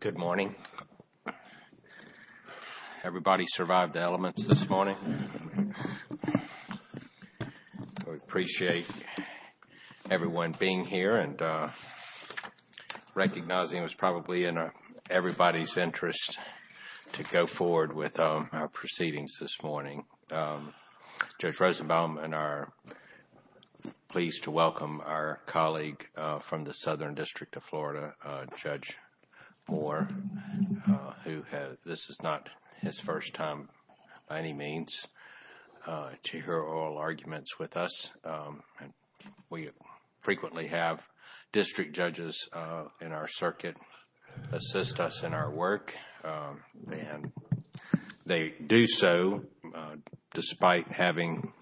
Good morning. Everybody survived the elements this morning. I appreciate everyone being here and recognizing it was probably in everybody's interest to go forward with our proceedings this morning. Judge Rosenbaum and I are pleased to welcome our colleague from the Southern District of Florida, Judge Moore. This is not his first time by any means to hear oral arguments with us. We frequently have district judges in our circuit assist us in our work. They do so despite having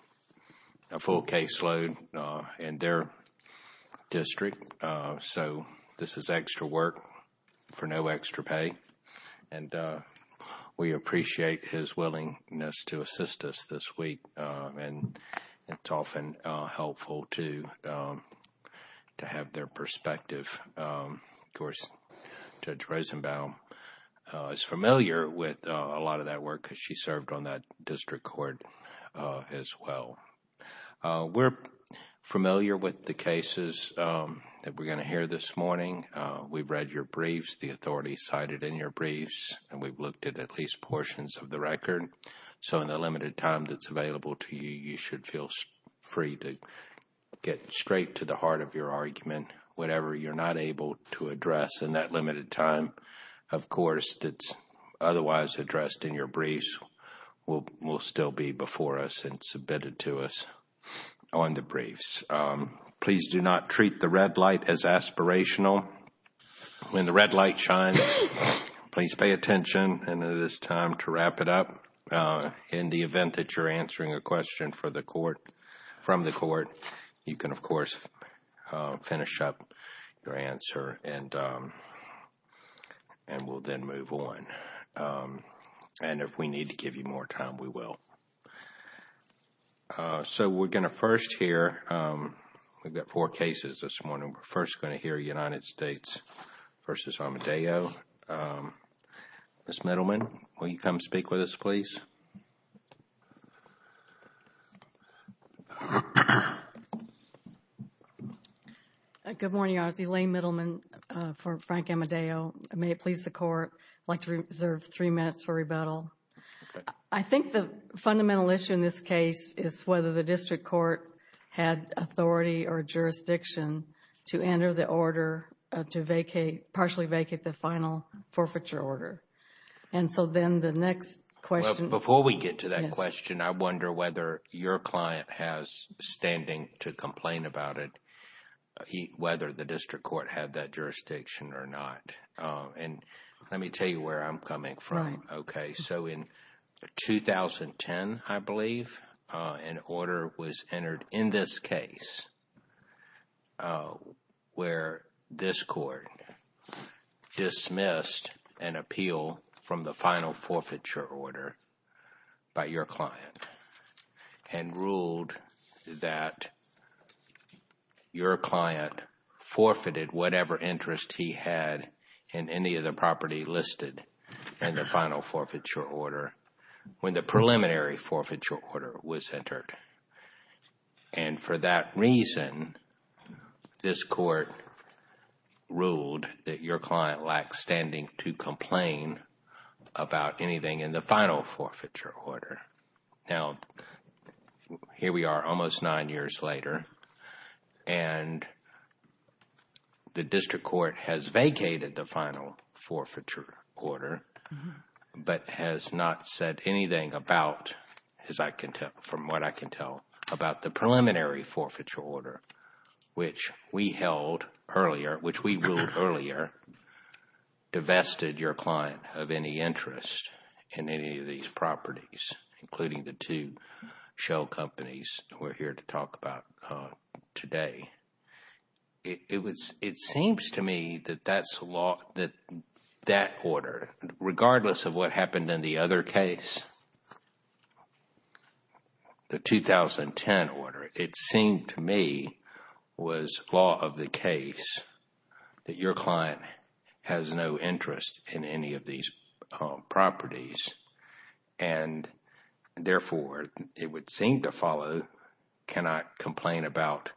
a full caseload in their district. This is extra work for no extra pay. We appreciate his willingness to assist us this week. It's often helpful to have their perspective. Judge Rosenbaum is familiar with a lot of that work because she served on that district court as well. We're familiar with the cases that we're going to hear this morning. We've read your briefs, the authorities cited in your briefs, and we've looked at at least portions of the record. So in the limited time that's available to you, you should feel free to get straight to the heart of your argument. Whatever you're not able to address in that limited time, of course, that's otherwise addressed in your briefs will still be before us and submitted to us on the briefs. Please do not treat the red light as aspirational. When the red light shines, please pay attention and it is time to wrap it up. In the event that you're answering a question from the court, you can, of course, finish up your answer and we'll then move on. And if we need to give you more time, we will. So we're going to first hear, we've got four cases this morning. We're first going to hear United States v. Amadeo. Ms. Middleman, will you come speak with us, please? Good morning, Your Honor. It's Elaine Middleman for Frank Amadeo. May it please the Court, I'd like to reserve three minutes for rebuttal. I think the fundamental issue in this case is whether the district court had authority or jurisdiction to enter the order to vacate, partially vacate the final forfeiture order. And so then the next question... Before we get to that question, I wonder whether your client has standing to complain about it, whether the district court had that jurisdiction or not. And let me tell you where I'm coming from. Okay, so in 2010, I believe, an order was entered in this case where this court dismissed an appeal from the final forfeiture order by your client and ruled that your client forfeited whatever interest he had in any of the property listed in the final forfeiture order when the preliminary forfeiture order was entered. And for that reason, this court ruled that your client lacks standing to complain about anything in the final forfeiture order. Now, here we are almost nine years later, and the district court has vacated the final forfeiture order, but has not said anything about, as I can tell, from what I can tell, about the preliminary forfeiture order, which we held earlier, which we ruled earlier, divested your client of any interest in any of these properties, including the two shell companies we're here to talk about today. It seems to me that that order, regardless of what happened in the other case, the 2010 order, it seemed to me was law of the case that your client has no interest in any of these properties. And therefore, it would seem to follow, cannot complain about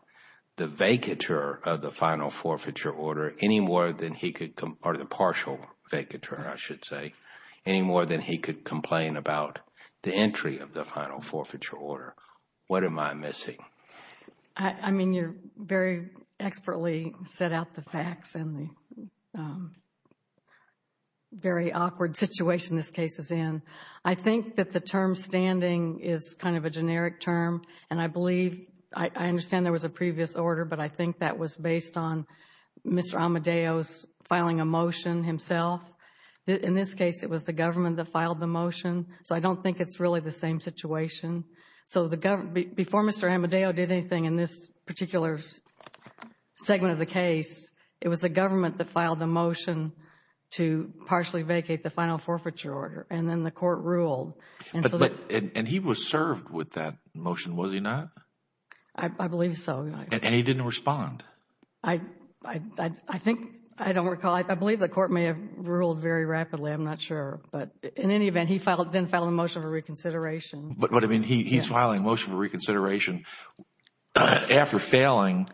the vacatur of the final forfeiture order any more than he could, or the partial vacatur, I should say, any more than he could complain about the entry of the final forfeiture order. What am I missing? I mean, you very expertly set out the facts and the very awkward situation this case is in. I think that the term standing is kind of a generic term, and I believe, I understand there was a previous order, but I think that was based on Mr. Amadeo's filing a motion himself. In this case, it was the government that filed the motion, so I don't think it's really the same situation. Before Mr. Amadeo did anything in this particular segment of the case, it was the government that filed the motion to partially vacate the final forfeiture order, and then the court ruled. And he was served with that motion, was he not? I believe so. And he didn't respond? I think, I don't recall. I believe the court may have ruled very rapidly. I'm not sure. But in any event, he didn't file a motion for reconsideration. But, I mean, he's filing a motion for reconsideration after failing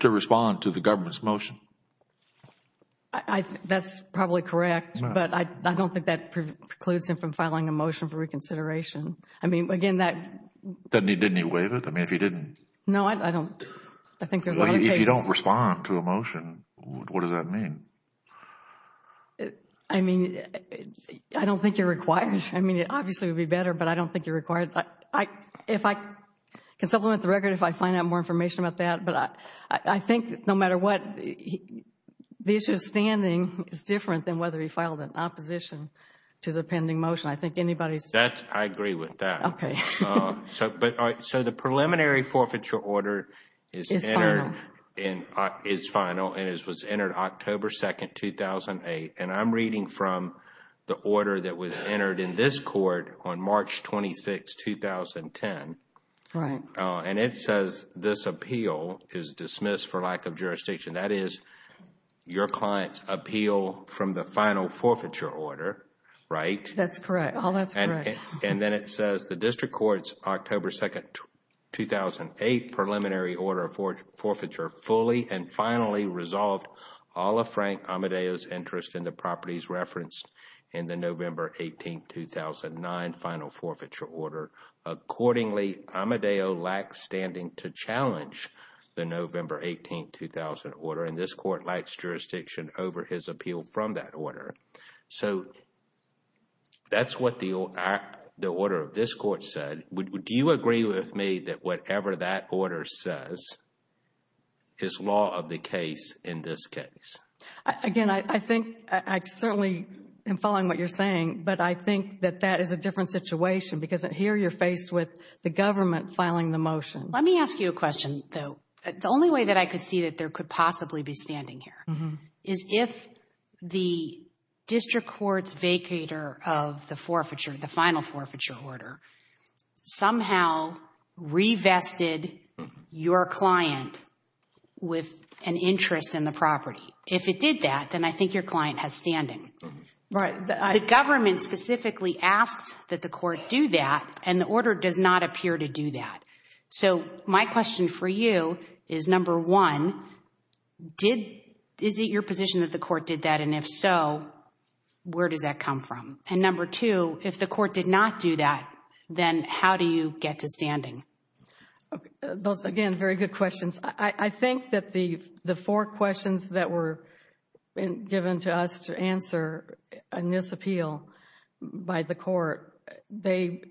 to respond to the government's motion. That's probably correct, but I don't think that precludes him from filing a motion for reconsideration. I mean, again, that. Didn't he waive it? I mean, if he didn't. No, I don't. I think there's a lot of cases. If you don't respond to a motion, what does that mean? I mean, I don't think you're required. I mean, it obviously would be better, but I don't think you're required. I can supplement the record if I find out more information about that. But I think that no matter what, the issue of standing is different than whether he filed an opposition to the pending motion. I think anybody's. I agree with that. Okay. So the preliminary forfeiture order is final. And it was entered October 2, 2008. And I'm reading from the order that was entered in this court on March 26, 2010. Right. And it says this appeal is dismissed for lack of jurisdiction. That is your client's appeal from the final forfeiture order. Right? That's correct. All that's correct. And then it says the district court's October 2, 2008 preliminary order for forfeiture fully and finally resolved all of Frank Amadeo's interest in the properties referenced in the November 18, 2009 final forfeiture order. Accordingly, Amadeo lacks standing to challenge the November 18, 2000 order. And this court lacks jurisdiction over his appeal from that order. So that's what the order of this court said. Do you agree with me that whatever that order says is law of the case in this case? Again, I think I certainly am following what you're saying. But I think that that is a different situation because here you're faced with the government filing the motion. Let me ask you a question, though. The only way that I could see that there could possibly be standing here is if the district court's vacator of the forfeiture, the final forfeiture order, somehow revested your client with an interest in the property. If it did that, then I think your client has standing. Right. The government specifically asks that the court do that, and the order does not appear to do that. So my question for you is, number one, is it your position that the court did that? And if so, where does that come from? And number two, if the court did not do that, then how do you get to standing? Those, again, very good questions. I think that the four questions that were given to us to answer in this appeal by the court, they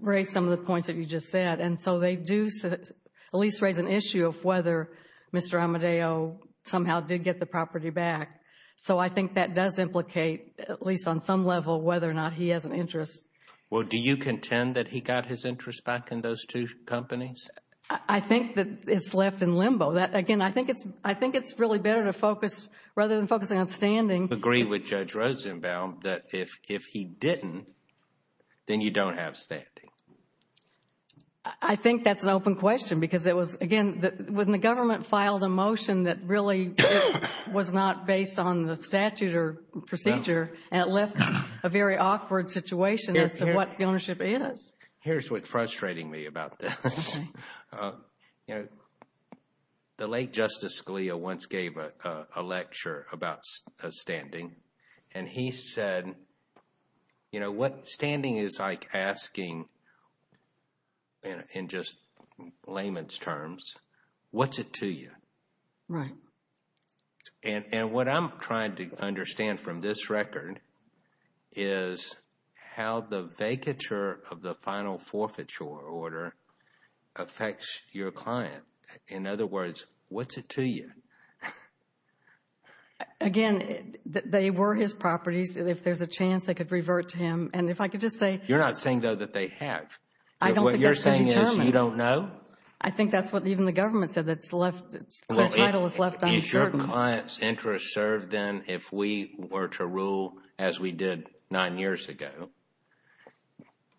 raise some of the points that you just said. And so they do at least raise an issue of whether Mr. Amadeo somehow did get the property back. So I think that does implicate, at least on some level, whether or not he has an interest. Well, do you contend that he got his interest back in those two companies? I think that it's left in limbo. Again, I think it's really better to focus rather than focusing on standing. Do you agree with Judge Rosenbaum that if he didn't, then you don't have standing? I think that's an open question because it was, again, when the government filed a motion that really was not based on the statute or procedure, it left a very awkward situation as to what the ownership is. Here's what's frustrating me about this. The late Justice Scalia once gave a lecture about standing, and he said, you know, standing is like asking in just layman's terms, what's it to you? Right. And what I'm trying to understand from this record is how the vacature of the final forfeiture order affects your client. In other words, what's it to you? Again, they were his properties. If there's a chance they could revert to him. And if I could just say— You're not saying, though, that they have. I don't think that's so determined. What you're saying is you don't know? I think that's what even the government said, that the title is left undetermined. Well, is your client's interest served then if we were to rule as we did nine years ago,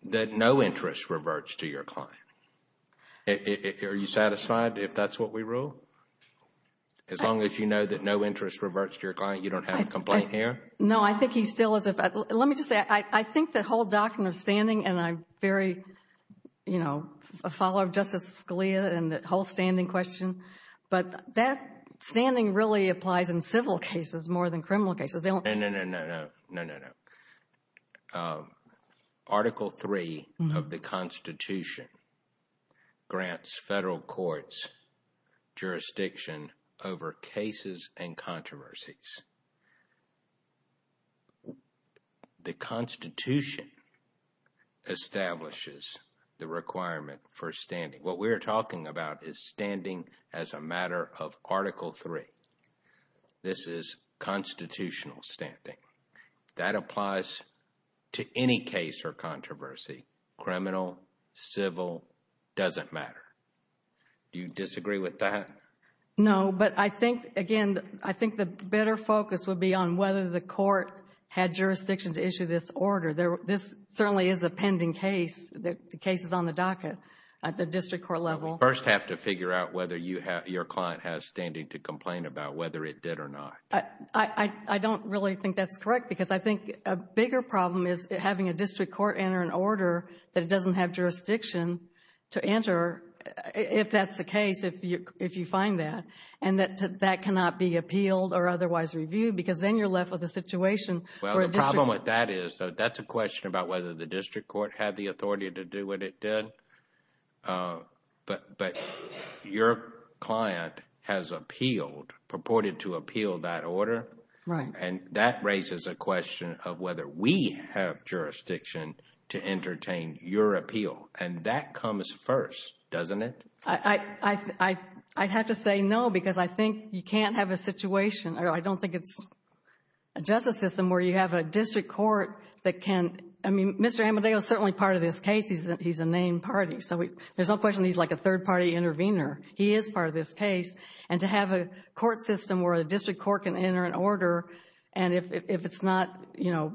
that no interest reverts to your client? Are you satisfied if that's what we rule? As long as you know that no interest reverts to your client, you don't have a complaint here? No, I think he still is. Let me just say, I think the whole doctrine of standing, and I'm very, you know, a follower of Justice Scalia and the whole standing question, but that standing really applies in civil cases more than criminal cases. No, no, no, no, no, no, no. Article III of the Constitution grants federal courts jurisdiction over cases and controversies. The Constitution establishes the requirement for standing. What we're talking about is standing as a matter of Article III. This is constitutional standing. That applies to any case or controversy, criminal, civil, doesn't matter. Do you disagree with that? No, but I think, again, I think the better focus would be on whether the court had jurisdiction to issue this order. This certainly is a pending case. The case is on the docket at the district court level. You first have to figure out whether your client has standing to complain about whether it did or not. I don't really think that's correct because I think a bigger problem is having a district court enter an order that it doesn't have jurisdiction to enter if that's the case, if you find that, and that that cannot be appealed or otherwise reviewed because then you're left with a situation where a district court Well, the problem with that is that's a question about whether the district court had the authority to do what it did. But your client has appealed, purported to appeal that order. Right. And that raises a question of whether we have jurisdiction to entertain your appeal. And that comes first, doesn't it? I'd have to say no because I think you can't have a situation or I don't think it's a justice system where you have a district court that can, I mean, Mr. Amadeo is certainly part of this case. He's a named party. So there's no question he's like a third-party intervener. He is part of this case. And to have a court system where a district court can enter an order and if it's not, you know,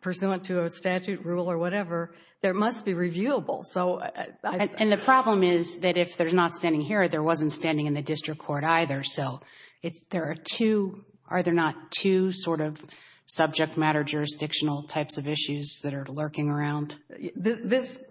pursuant to a statute rule or whatever, there must be reviewable. And the problem is that if there's not standing here, there wasn't standing in the district court either. So there are two, are there not two sort of subject matter jurisdictional types of issues that are lurking around? This,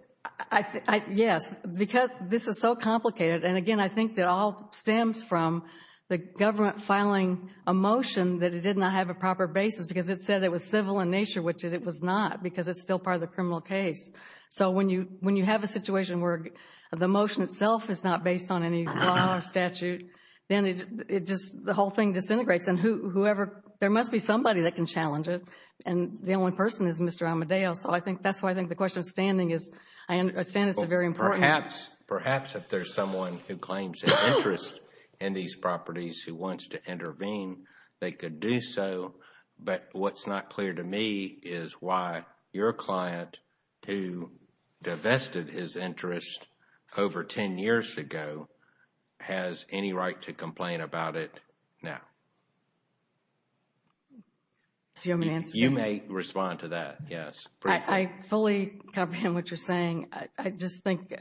yes, because this is so complicated. And, again, I think that all stems from the government filing a motion that it did not have a proper basis because it said it was civil in nature, which it was not because it's still part of the criminal case. So when you have a situation where the motion itself is not based on any law or statute, then it just, the whole thing disintegrates. And whoever, there must be somebody that can challenge it. And the only person is Mr. Amadeo. So I think that's why I think the question of standing is, I understand it's very important. Perhaps, perhaps if there's someone who claims an interest in these properties who wants to intervene, they could do so. But what's not clear to me is why your client, who divested his interest over 10 years ago, has any right to complain about it now. Do you want me to answer that? You may respond to that, yes. I fully comprehend what you're saying. I just think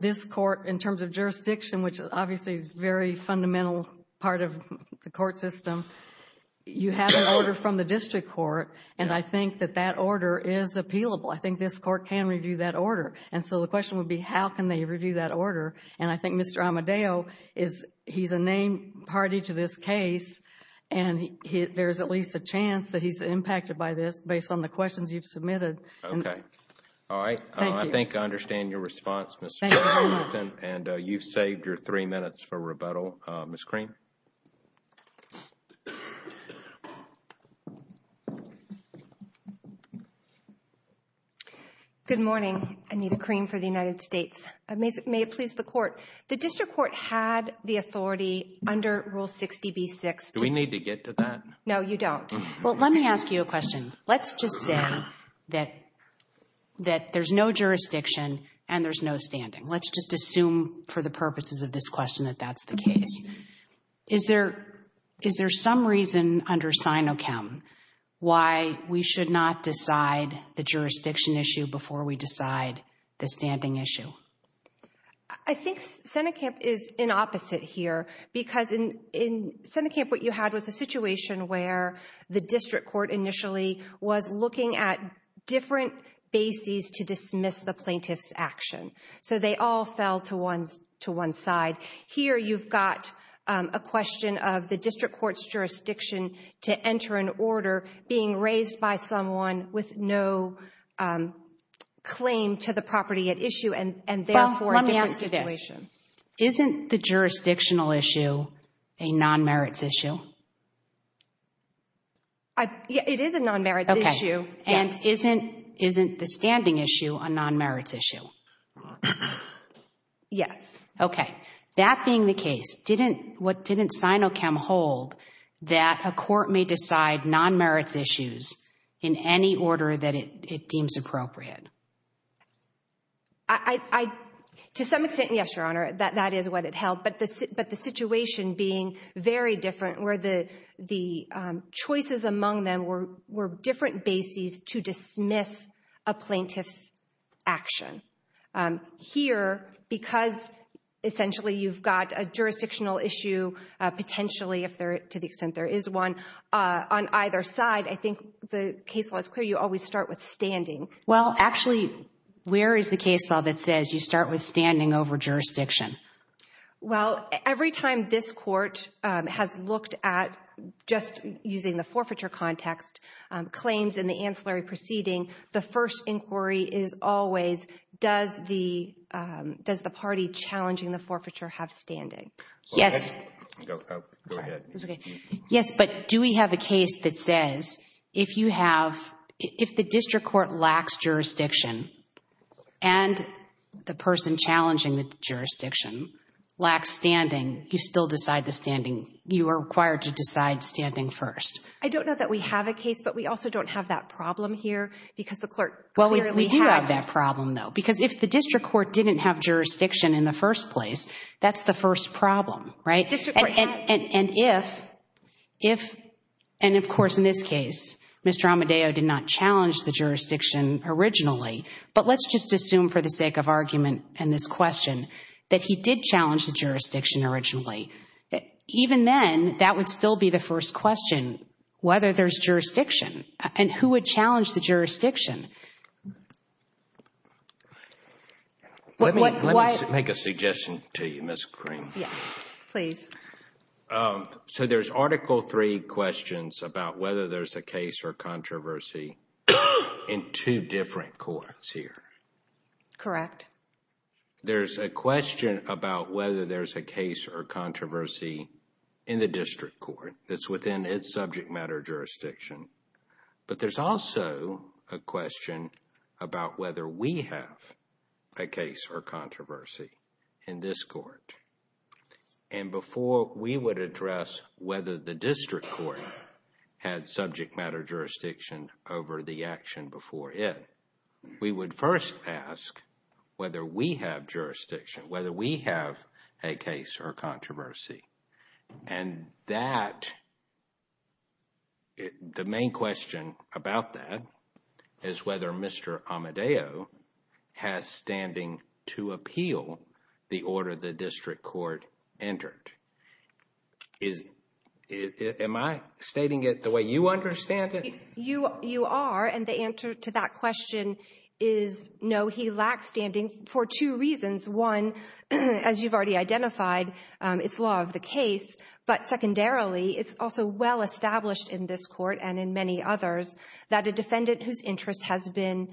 this court, in terms of jurisdiction, which obviously is a very fundamental part of the court system, you have an order from the district court. And I think that that order is appealable. I think this court can review that order. And so the question would be, how can they review that order? And I think Mr. Amadeo is, he's a named party to this case. And there's at least a chance that he's impacted by this, based on the questions you've submitted. Okay. All right. Thank you. I think I understand your response, Ms. Billington. And you've saved your three minutes for rebuttal. Ms. Cream? Anita Cream for the United States. May it please the court. The district court had the authority under Rule 60B6 to Do we need to get to that? No, you don't. Well, let me ask you a question. Let's just say that there's no jurisdiction and there's no standing. Let's just assume for the purposes of this question that that's the case. Is there some reason under SINOCHEM why we should not decide the jurisdiction issue before we decide the standing issue? I think SINOCHEM is in opposite here. Because in SINOCHEM what you had was a situation where the district court initially was looking at different bases to dismiss the plaintiff's action. So they all fell to one side. Here you've got a question of the district court's jurisdiction to enter an order being raised by someone with no claim to the property at issue and therefore a different situation. Well, let me ask you this. Isn't the jurisdictional issue a non-merits issue? It is a non-merits issue, yes. And isn't the standing issue a non-merits issue? Yes. Okay. That being the case, what didn't SINOCHEM hold that a court may decide non-merits issues in any order that it deems appropriate? To some extent, yes, Your Honor, that is what it held. But the situation being very different where the choices among them were different bases to dismiss a plaintiff's action. Here, because essentially you've got a jurisdictional issue potentially, to the extent there is one, on either side, I think the case law is clear, you always start with standing. Well, actually, where is the case law that says you start with standing over jurisdiction? Well, every time this court has looked at, just using the forfeiture context, claims in the ancillary proceeding, the first inquiry is always, does the party challenging the forfeiture have standing? Yes. Go ahead. Yes, but do we have a case that says if you have, if the district court lacks jurisdiction and the person challenging the jurisdiction lacks standing, you still decide the standing, you are required to decide standing first? I don't know that we have a case, but we also don't have that problem here because the clerk clearly had it. Well, we do have that problem, though, because if the district court didn't have jurisdiction in the first place, that's the first problem, right? And if, and of course in this case, Mr. Amadeo did not challenge the jurisdiction originally, but let's just assume for the sake of argument and this question that he did challenge the jurisdiction originally. Even then, that would still be the first question, whether there's jurisdiction, and who would challenge the jurisdiction? Let me make a suggestion to you, Ms. Cream. Yes, please. So there's Article III questions about whether there's a case or controversy in two different courts here. Correct. There's a question about whether there's a case or controversy in the district court that's within its subject matter jurisdiction, but there's also a question about whether we have a case or controversy in this court. And before we would address whether the district court had subject matter jurisdiction over the action before it, we would first ask whether we have jurisdiction, whether we have a case or controversy. And that, the main question about that is whether Mr. Amadeo has standing to appeal the order the district court entered. Am I stating it the way you understand it? You are, and the answer to that question is no, he lacks standing for two reasons. One, as you've already identified, it's law of the case, but secondarily, it's also well established in this court and in many others that a defendant whose interest has been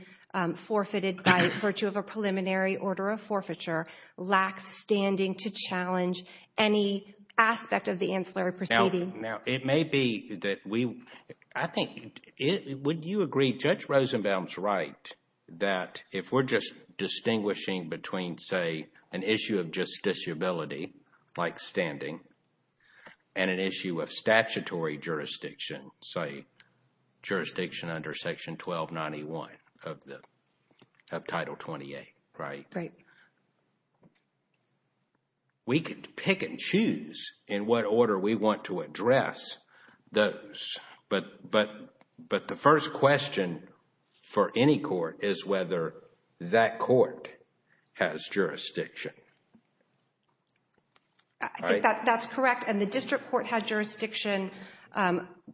forfeited by virtue of a preliminary order of forfeiture lacks standing to challenge any aspect of the ancillary proceeding. Now, it may be that we, I think, would you agree Judge Rosenbaum's right that if we're just distinguishing between, say, an issue of justiciability, like standing, and an issue of statutory jurisdiction, say, jurisdiction under Section 1291 of the, of Title 28, right? Right. We could pick and choose in what order we want to address those, but the first question for any court is whether that court has jurisdiction. I think that's correct, and the district court has jurisdiction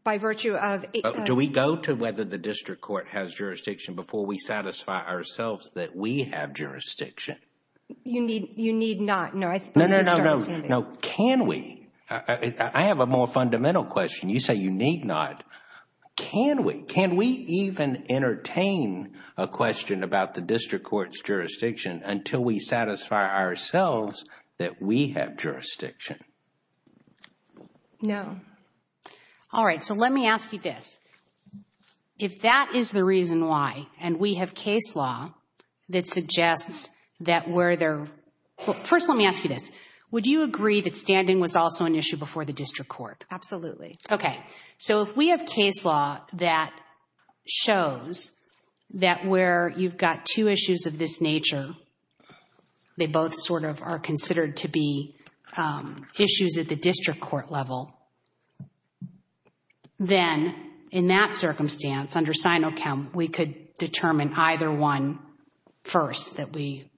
by virtue of... Do we go to whether the district court has jurisdiction before we satisfy ourselves that we have jurisdiction? You need not. No, no, no, no. No, can we? I have a more fundamental question. You say you need not. Can we? Can we even entertain a question about the district court's jurisdiction until we satisfy ourselves that we have jurisdiction? No. All right, so let me ask you this. If that is the reason why, and we have case law that suggests that where there... First, let me ask you this. Would you agree that standing was also an issue before the district court? Absolutely. Okay, so if we have case law that shows that where you've got two issues of this nature, they both sort of are considered to be issues at the district court level, then in that circumstance, under SINOCHEM, we could determine either one first that we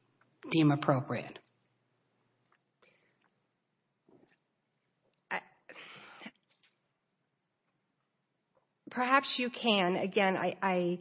deem appropriate. Perhaps you can. Again, I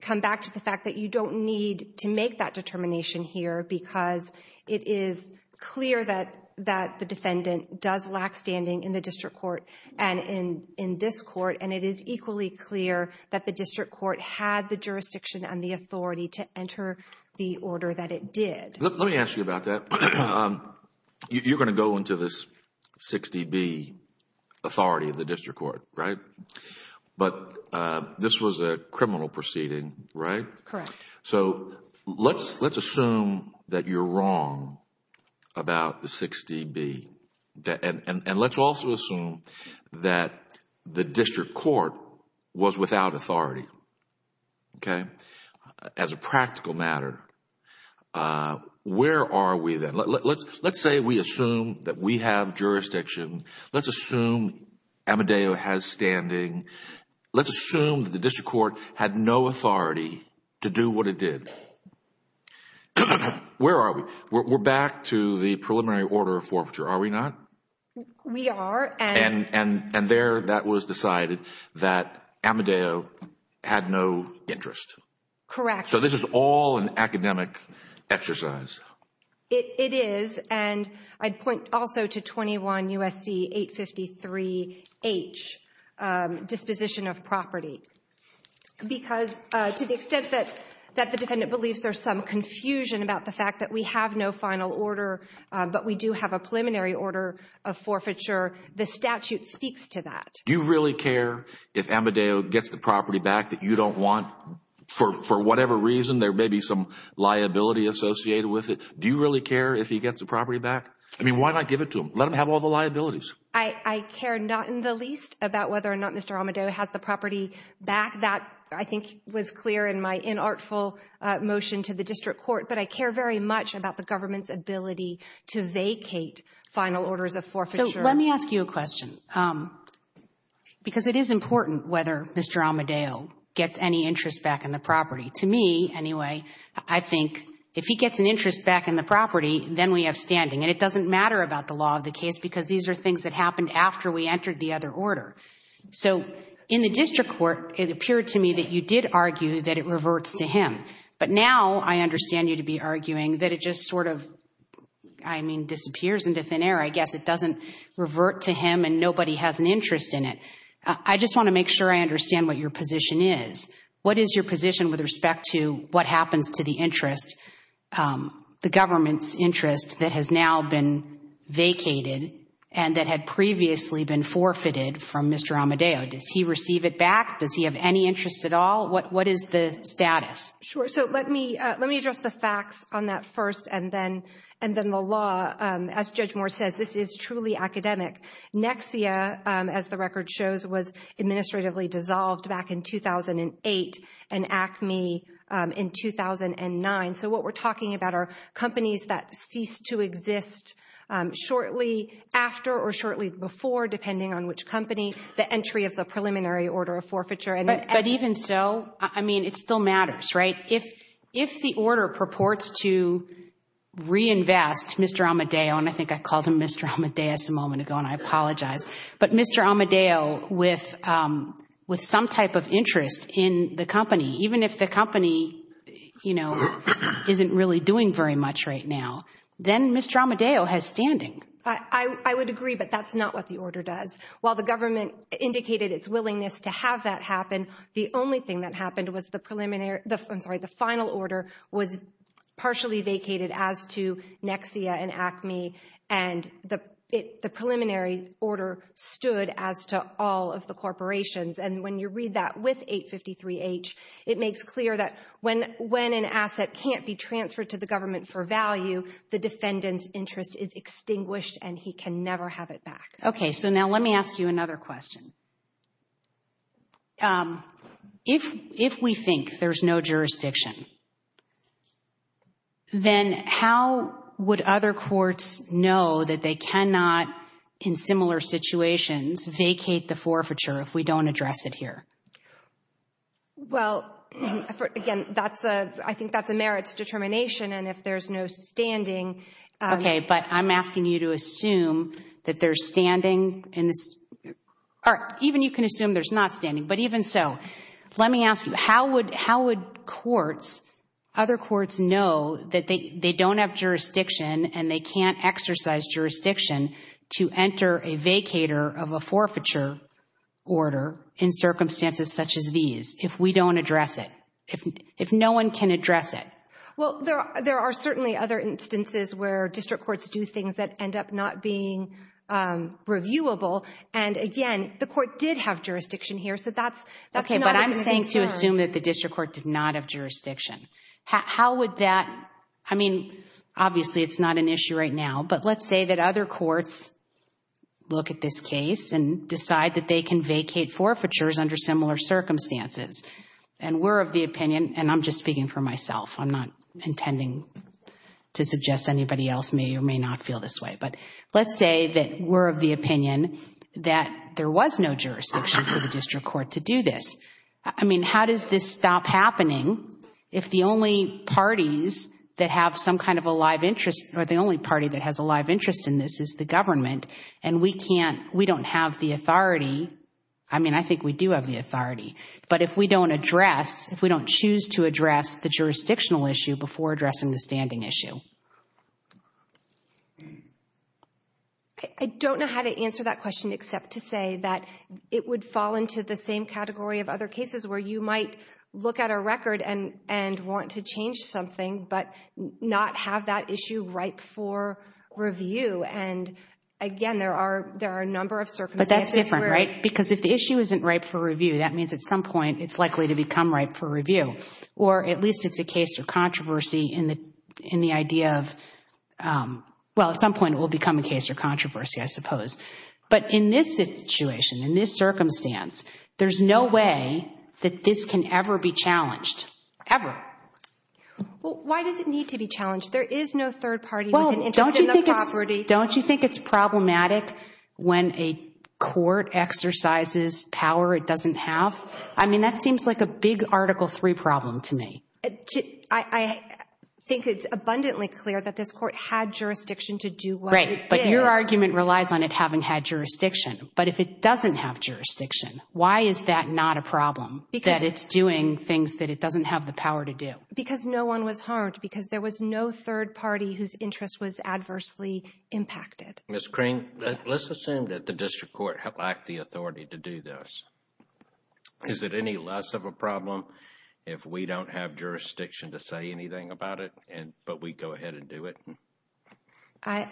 come back to the fact that you don't need to make that determination here because it is clear that the defendant does lack standing in the district court and in this court, and it is equally clear that the district court had the jurisdiction and the authority to enter the order that it did. Let me ask you about that. You're going to go into this 60B, authority of the district court, right? But this was a criminal proceeding, right? Correct. So let's assume that you're wrong about the 60B, and let's also assume that the district court was without authority. Okay? As a practical matter, where are we then? Let's say we assume that we have jurisdiction. Let's assume Amadeo has standing. Let's assume that the district court had no authority to do what it did. Where are we? We're back to the preliminary order of forfeiture, are we not? We are. And there that was decided that Amadeo had no interest. Correct. So this is all an academic exercise. It is, and I'd point also to 21 U.S.C. 853H, disposition of property. Because to the extent that the defendant believes there's some confusion about the fact that we have no final order, but we do have a preliminary order of forfeiture, the statute speaks to that. Do you really care if Amadeo gets the property back that you don't want for whatever reason? There may be some liability associated with it. Do you really care if he gets the property back? I mean, why not give it to him? Let him have all the liabilities. I care not in the least about whether or not Mr. Amadeo has the property back. That, I think, was clear in my inartful motion to the district court. But I care very much about the government's ability to vacate final orders of forfeiture. So let me ask you a question, because it is important whether Mr. Amadeo gets any interest back in the property. To me, anyway, I think if he gets an interest back in the property, then we have standing. And it doesn't matter about the law of the case, because these are things that happened after we entered the other order. So in the district court, it appeared to me that you did argue that it reverts to him. But now I understand you to be arguing that it just sort of, I mean, disappears into thin air. I guess it doesn't revert to him and nobody has an interest in it. I just want to make sure I understand what your position is. What is your position with respect to what happens to the interest, the government's interest, that has now been vacated and that had previously been forfeited from Mr. Amadeo? Does he receive it back? Does he have any interest at all? What is the status? Sure. So let me address the facts on that first and then the law. As Judge Moore says, this is truly academic. Nexia, as the record shows, was administratively dissolved back in 2008 and Acme in 2009. So what we're talking about are companies that ceased to exist shortly after or shortly before, depending on which company, the entry of the preliminary order of forfeiture. But even so, I mean, it still matters, right? If the order purports to reinvest Mr. Amadeo, and I think I called him Mr. Amadeus a moment ago, and I apologize, but Mr. Amadeo with some type of interest in the company, even if the company, you know, isn't really doing very much right now, then Mr. Amadeo has standing. I would agree, but that's not what the order does. While the government indicated its willingness to have that happen, the only thing that happened was the final order was partially vacated as to Nexia and Acme, and the preliminary order stood as to all of the corporations. And when you read that with 853-H, it makes clear that when an asset can't be transferred to the government for value, the defendant's interest is extinguished and he can never have it back. Okay, so now let me ask you another question. If we think there's no jurisdiction, then how would other courts know that they cannot, in similar situations, vacate the forfeiture if we don't address it here? Well, again, I think that's a merits determination, and if there's no standing— Okay, but I'm asking you to assume that there's standing in this— All right, even you can assume there's not standing, but even so, let me ask you, how would courts, other courts know that they don't have jurisdiction and they can't exercise jurisdiction to enter a vacator of a forfeiture order in circumstances such as these if we don't address it, if no one can address it? Well, there are certainly other instances where district courts do things that end up not being reviewable, and again, the court did have jurisdiction here, so that's not a good concern. Okay, but I'm saying to assume that the district court did not have jurisdiction. How would that—I mean, obviously it's not an issue right now, but let's say that other courts look at this case and decide that they can vacate forfeitures under similar circumstances, and we're of the opinion—and I'm just speaking for myself. I'm not intending to suggest anybody else may or may not feel this way, but let's say that we're of the opinion that there was no jurisdiction for the district court to do this. I mean, how does this stop happening if the only parties that have some kind of a live interest or the only party that has a live interest in this is the government, and we don't have the authority—I mean, I think we do have the authority, but if we don't address—if we don't choose to address the jurisdictional issue before addressing the standing issue? I don't know how to answer that question except to say that it would fall into the same category of other cases where you might look at a record and want to change something but not have that issue ripe for review, and again, there are a number of circumstances where— at some point, it's likely to become ripe for review, or at least it's a case of controversy in the idea of—well, at some point, it will become a case of controversy, I suppose. But in this situation, in this circumstance, there's no way that this can ever be challenged, ever. Well, why does it need to be challenged? There is no third party with an interest in the property. Don't you think it's problematic when a court exercises power it doesn't have? I mean, that seems like a big Article III problem to me. I think it's abundantly clear that this court had jurisdiction to do what it did. Right, but your argument relies on it having had jurisdiction. But if it doesn't have jurisdiction, why is that not a problem, that it's doing things that it doesn't have the power to do? Because no one was harmed, because there was no third party whose interest was adversely impacted. Ms. Crean, let's assume that the district court lacked the authority to do this. Is it any less of a problem if we don't have jurisdiction to say anything about it, but we go ahead and do it? I—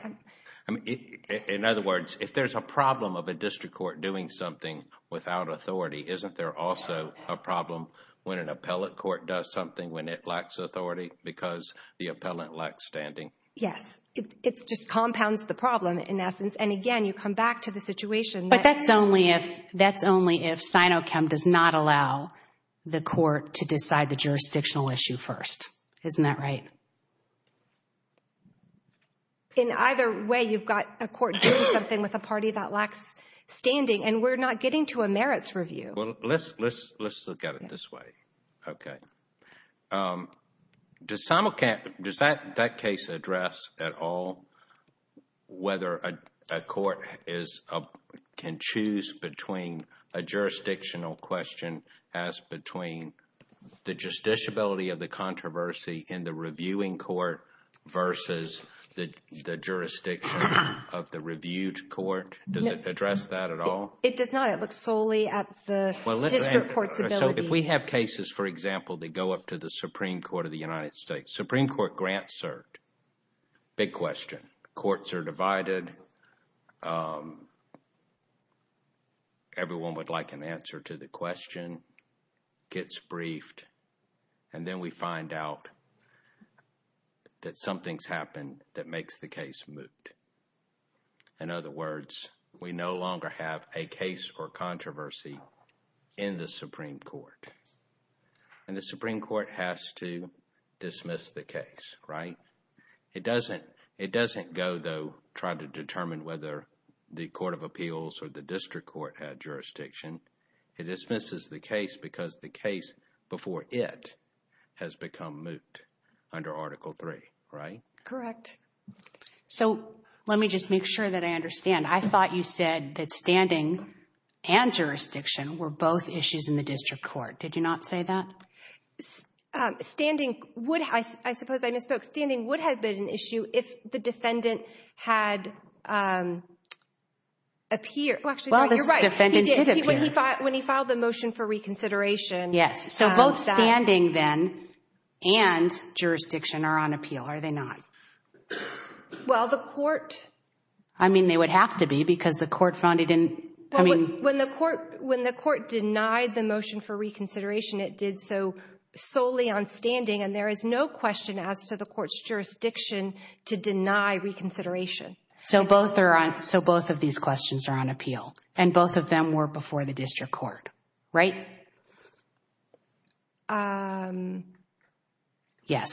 In other words, if there's a problem of a district court doing something without authority, isn't there also a problem when an appellate court does something when it lacks authority because the appellant lacks standing? Yes, it just compounds the problem in essence. And again, you come back to the situation that— But that's only if—that's only if Sinochem does not allow the court to decide the jurisdictional issue first. Isn't that right? In either way, you've got a court doing something with a party that lacks standing, and we're not getting to a merits review. Well, let's look at it this way. Okay. Does Sinochem—does that case address at all whether a court can choose between a jurisdictional question as between the justiciability of the controversy in the reviewing court versus the jurisdiction of the reviewed court? No. Does it address that at all? It does not. It looks solely at the district court's ability. So if we have cases, for example, that go up to the Supreme Court of the United States, Supreme Court grant cert, big question. Courts are divided. Everyone would like an answer to the question, gets briefed, and then we find out that something's happened that makes the case moot. In other words, we no longer have a case or controversy in the Supreme Court, and the Supreme Court has to dismiss the case, right? It doesn't go, though, trying to determine whether the court of appeals or the district court had jurisdiction. It dismisses the case because the case before it has become moot under Article III, right? Correct. So let me just make sure that I understand. I thought you said that standing and jurisdiction were both issues in the district court. Did you not say that? Standing would, I suppose I misspoke, standing would have been an issue if the defendant had appeared. Well, actually, you're right. Well, the defendant did appear. When he filed the motion for reconsideration. Yes. So both standing, then, and jurisdiction are on appeal, are they not? Well, the court— I mean, they would have to be because the court found he didn't— When the court denied the motion for reconsideration, it did so solely on standing, and there is no question as to the court's jurisdiction to deny reconsideration. So both of these questions are on appeal, and both of them were before the district court, right? Yes.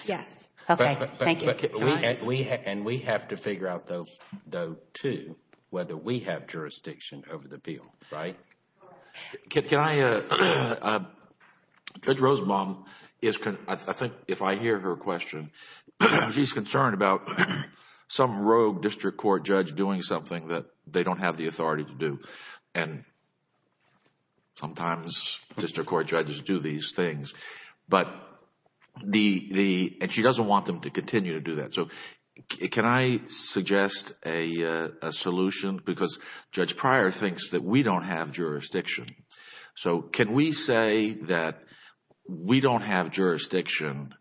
Yes. Okay. Thank you. And we have to figure out, though, too, whether we have jurisdiction over the appeal, right? Can I—Judge Rosenbaum is—I think if I hear her question, she's concerned about some rogue district court judge doing something that they don't have the authority to do, and sometimes district court judges do these things. But the—and she doesn't want them to continue to do that. So can I suggest a solution? Because Judge Pryor thinks that we don't have jurisdiction. So can we say that we don't have jurisdiction,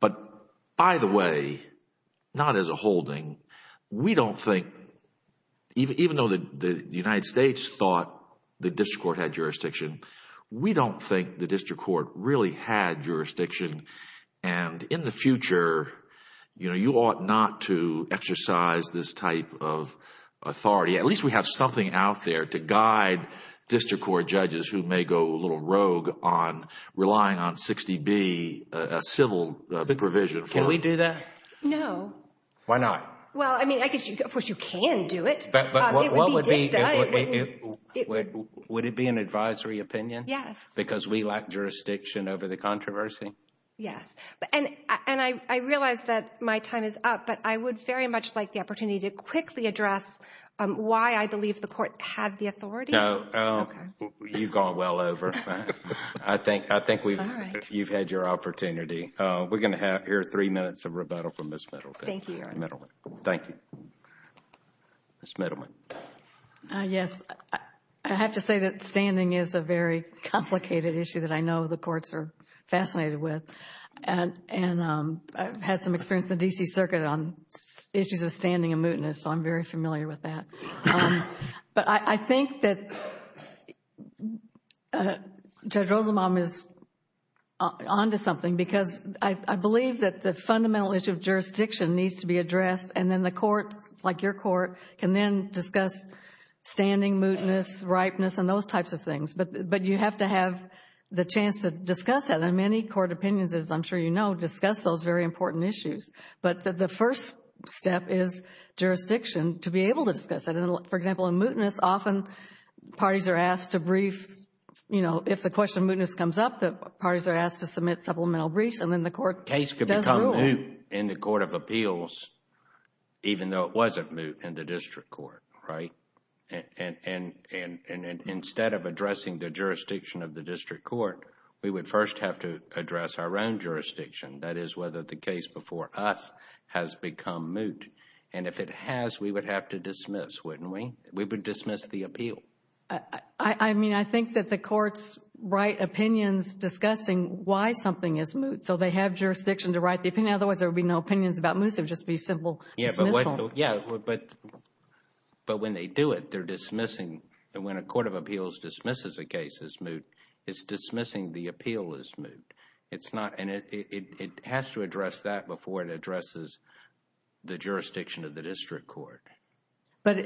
but by the way, not as a holding, we don't think, even though the United States thought the district court had jurisdiction, we don't think the district court really had jurisdiction. And in the future, you know, you ought not to exercise this type of authority. At least we have something out there to guide district court judges who may go a little rogue on relying on 60B, a civil provision for them. Can we do that? No. Why not? Well, I mean, of course, you can do it. But what would be—would it be an advisory opinion? Yes. Because we lack jurisdiction over the controversy? Yes. And I realize that my time is up, but I would very much like the opportunity to quickly address why I believe the court had the authority. No. Okay. You've gone well over. I think we've—you've had your opportunity. We're going to hear three minutes of rebuttal from Ms. Middleton. Thank you, Your Honor. Middleton. Thank you. Ms. Middleton. Yes. I have to say that standing is a very complicated issue that I know the courts are fascinated with. And I've had some experience in the D.C. Circuit on issues of standing and mootness, so I'm very familiar with that. But I think that Judge Rosenbaum is onto something because I believe that the fundamental issue of jurisdiction needs to be addressed, and then the courts, like your court, can then discuss standing, mootness, ripeness, and those types of things. But you have to have the chance to discuss that. And many court opinions, as I'm sure you know, discuss those very important issues. But the first step is jurisdiction to be able to discuss it. For example, in mootness, often parties are asked to brief, you know, if the question of mootness comes up, the parties are asked to submit supplemental briefs, and then the court does rule. It's moot in the court of appeals, even though it wasn't moot in the district court, right? And instead of addressing the jurisdiction of the district court, we would first have to address our own jurisdiction, that is, whether the case before us has become moot. And if it has, we would have to dismiss, wouldn't we? We would dismiss the appeal. I mean, I think that the courts write opinions discussing why something is moot. So they have jurisdiction to write the opinion. Otherwise, there would be no opinions about moot. It would just be simple dismissal. Yeah, but when they do it, they're dismissing. When a court of appeals dismisses a case as moot, it's dismissing the appeal as moot. And it has to address that before it addresses the jurisdiction of the district court. But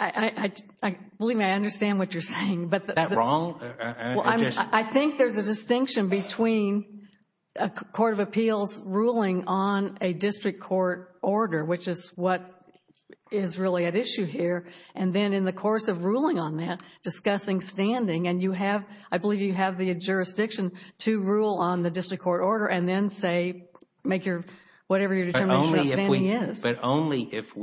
I believe I understand what you're saying. Is that wrong? I think there's a distinction between a court of appeals ruling on a district court order, which is what is really at issue here, and then in the course of ruling on that, discussing standing. And you have, I believe you have the jurisdiction to rule on the district court order and then say, make your, whatever your determination of standing is. But only if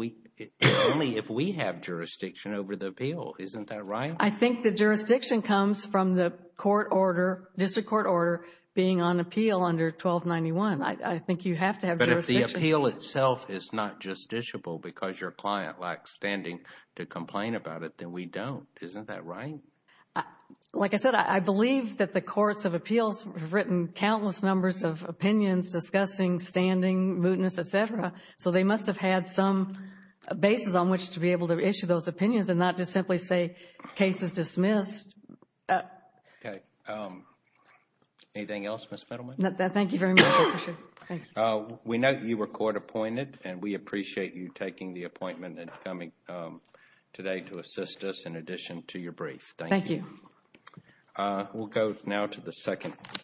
we have jurisdiction over the appeal. Isn't that right? I think the jurisdiction comes from the court order, district court order, being on appeal under 1291. I think you have to have jurisdiction. But if the appeal itself is not justiciable because your client lacks standing to complain about it, then we don't. Isn't that right? Like I said, I believe that the courts of appeals have written countless numbers of opinions discussing standing, mootness, et cetera. So they must have had some basis on which to be able to issue those opinions and not just simply say, case is dismissed. Okay. Anything else, Ms. Fiddleman? No, thank you very much. I appreciate it. We know you were court appointed, and we appreciate you taking the appointment and coming today to assist us in addition to your brief. Thank you. We'll go now to the second.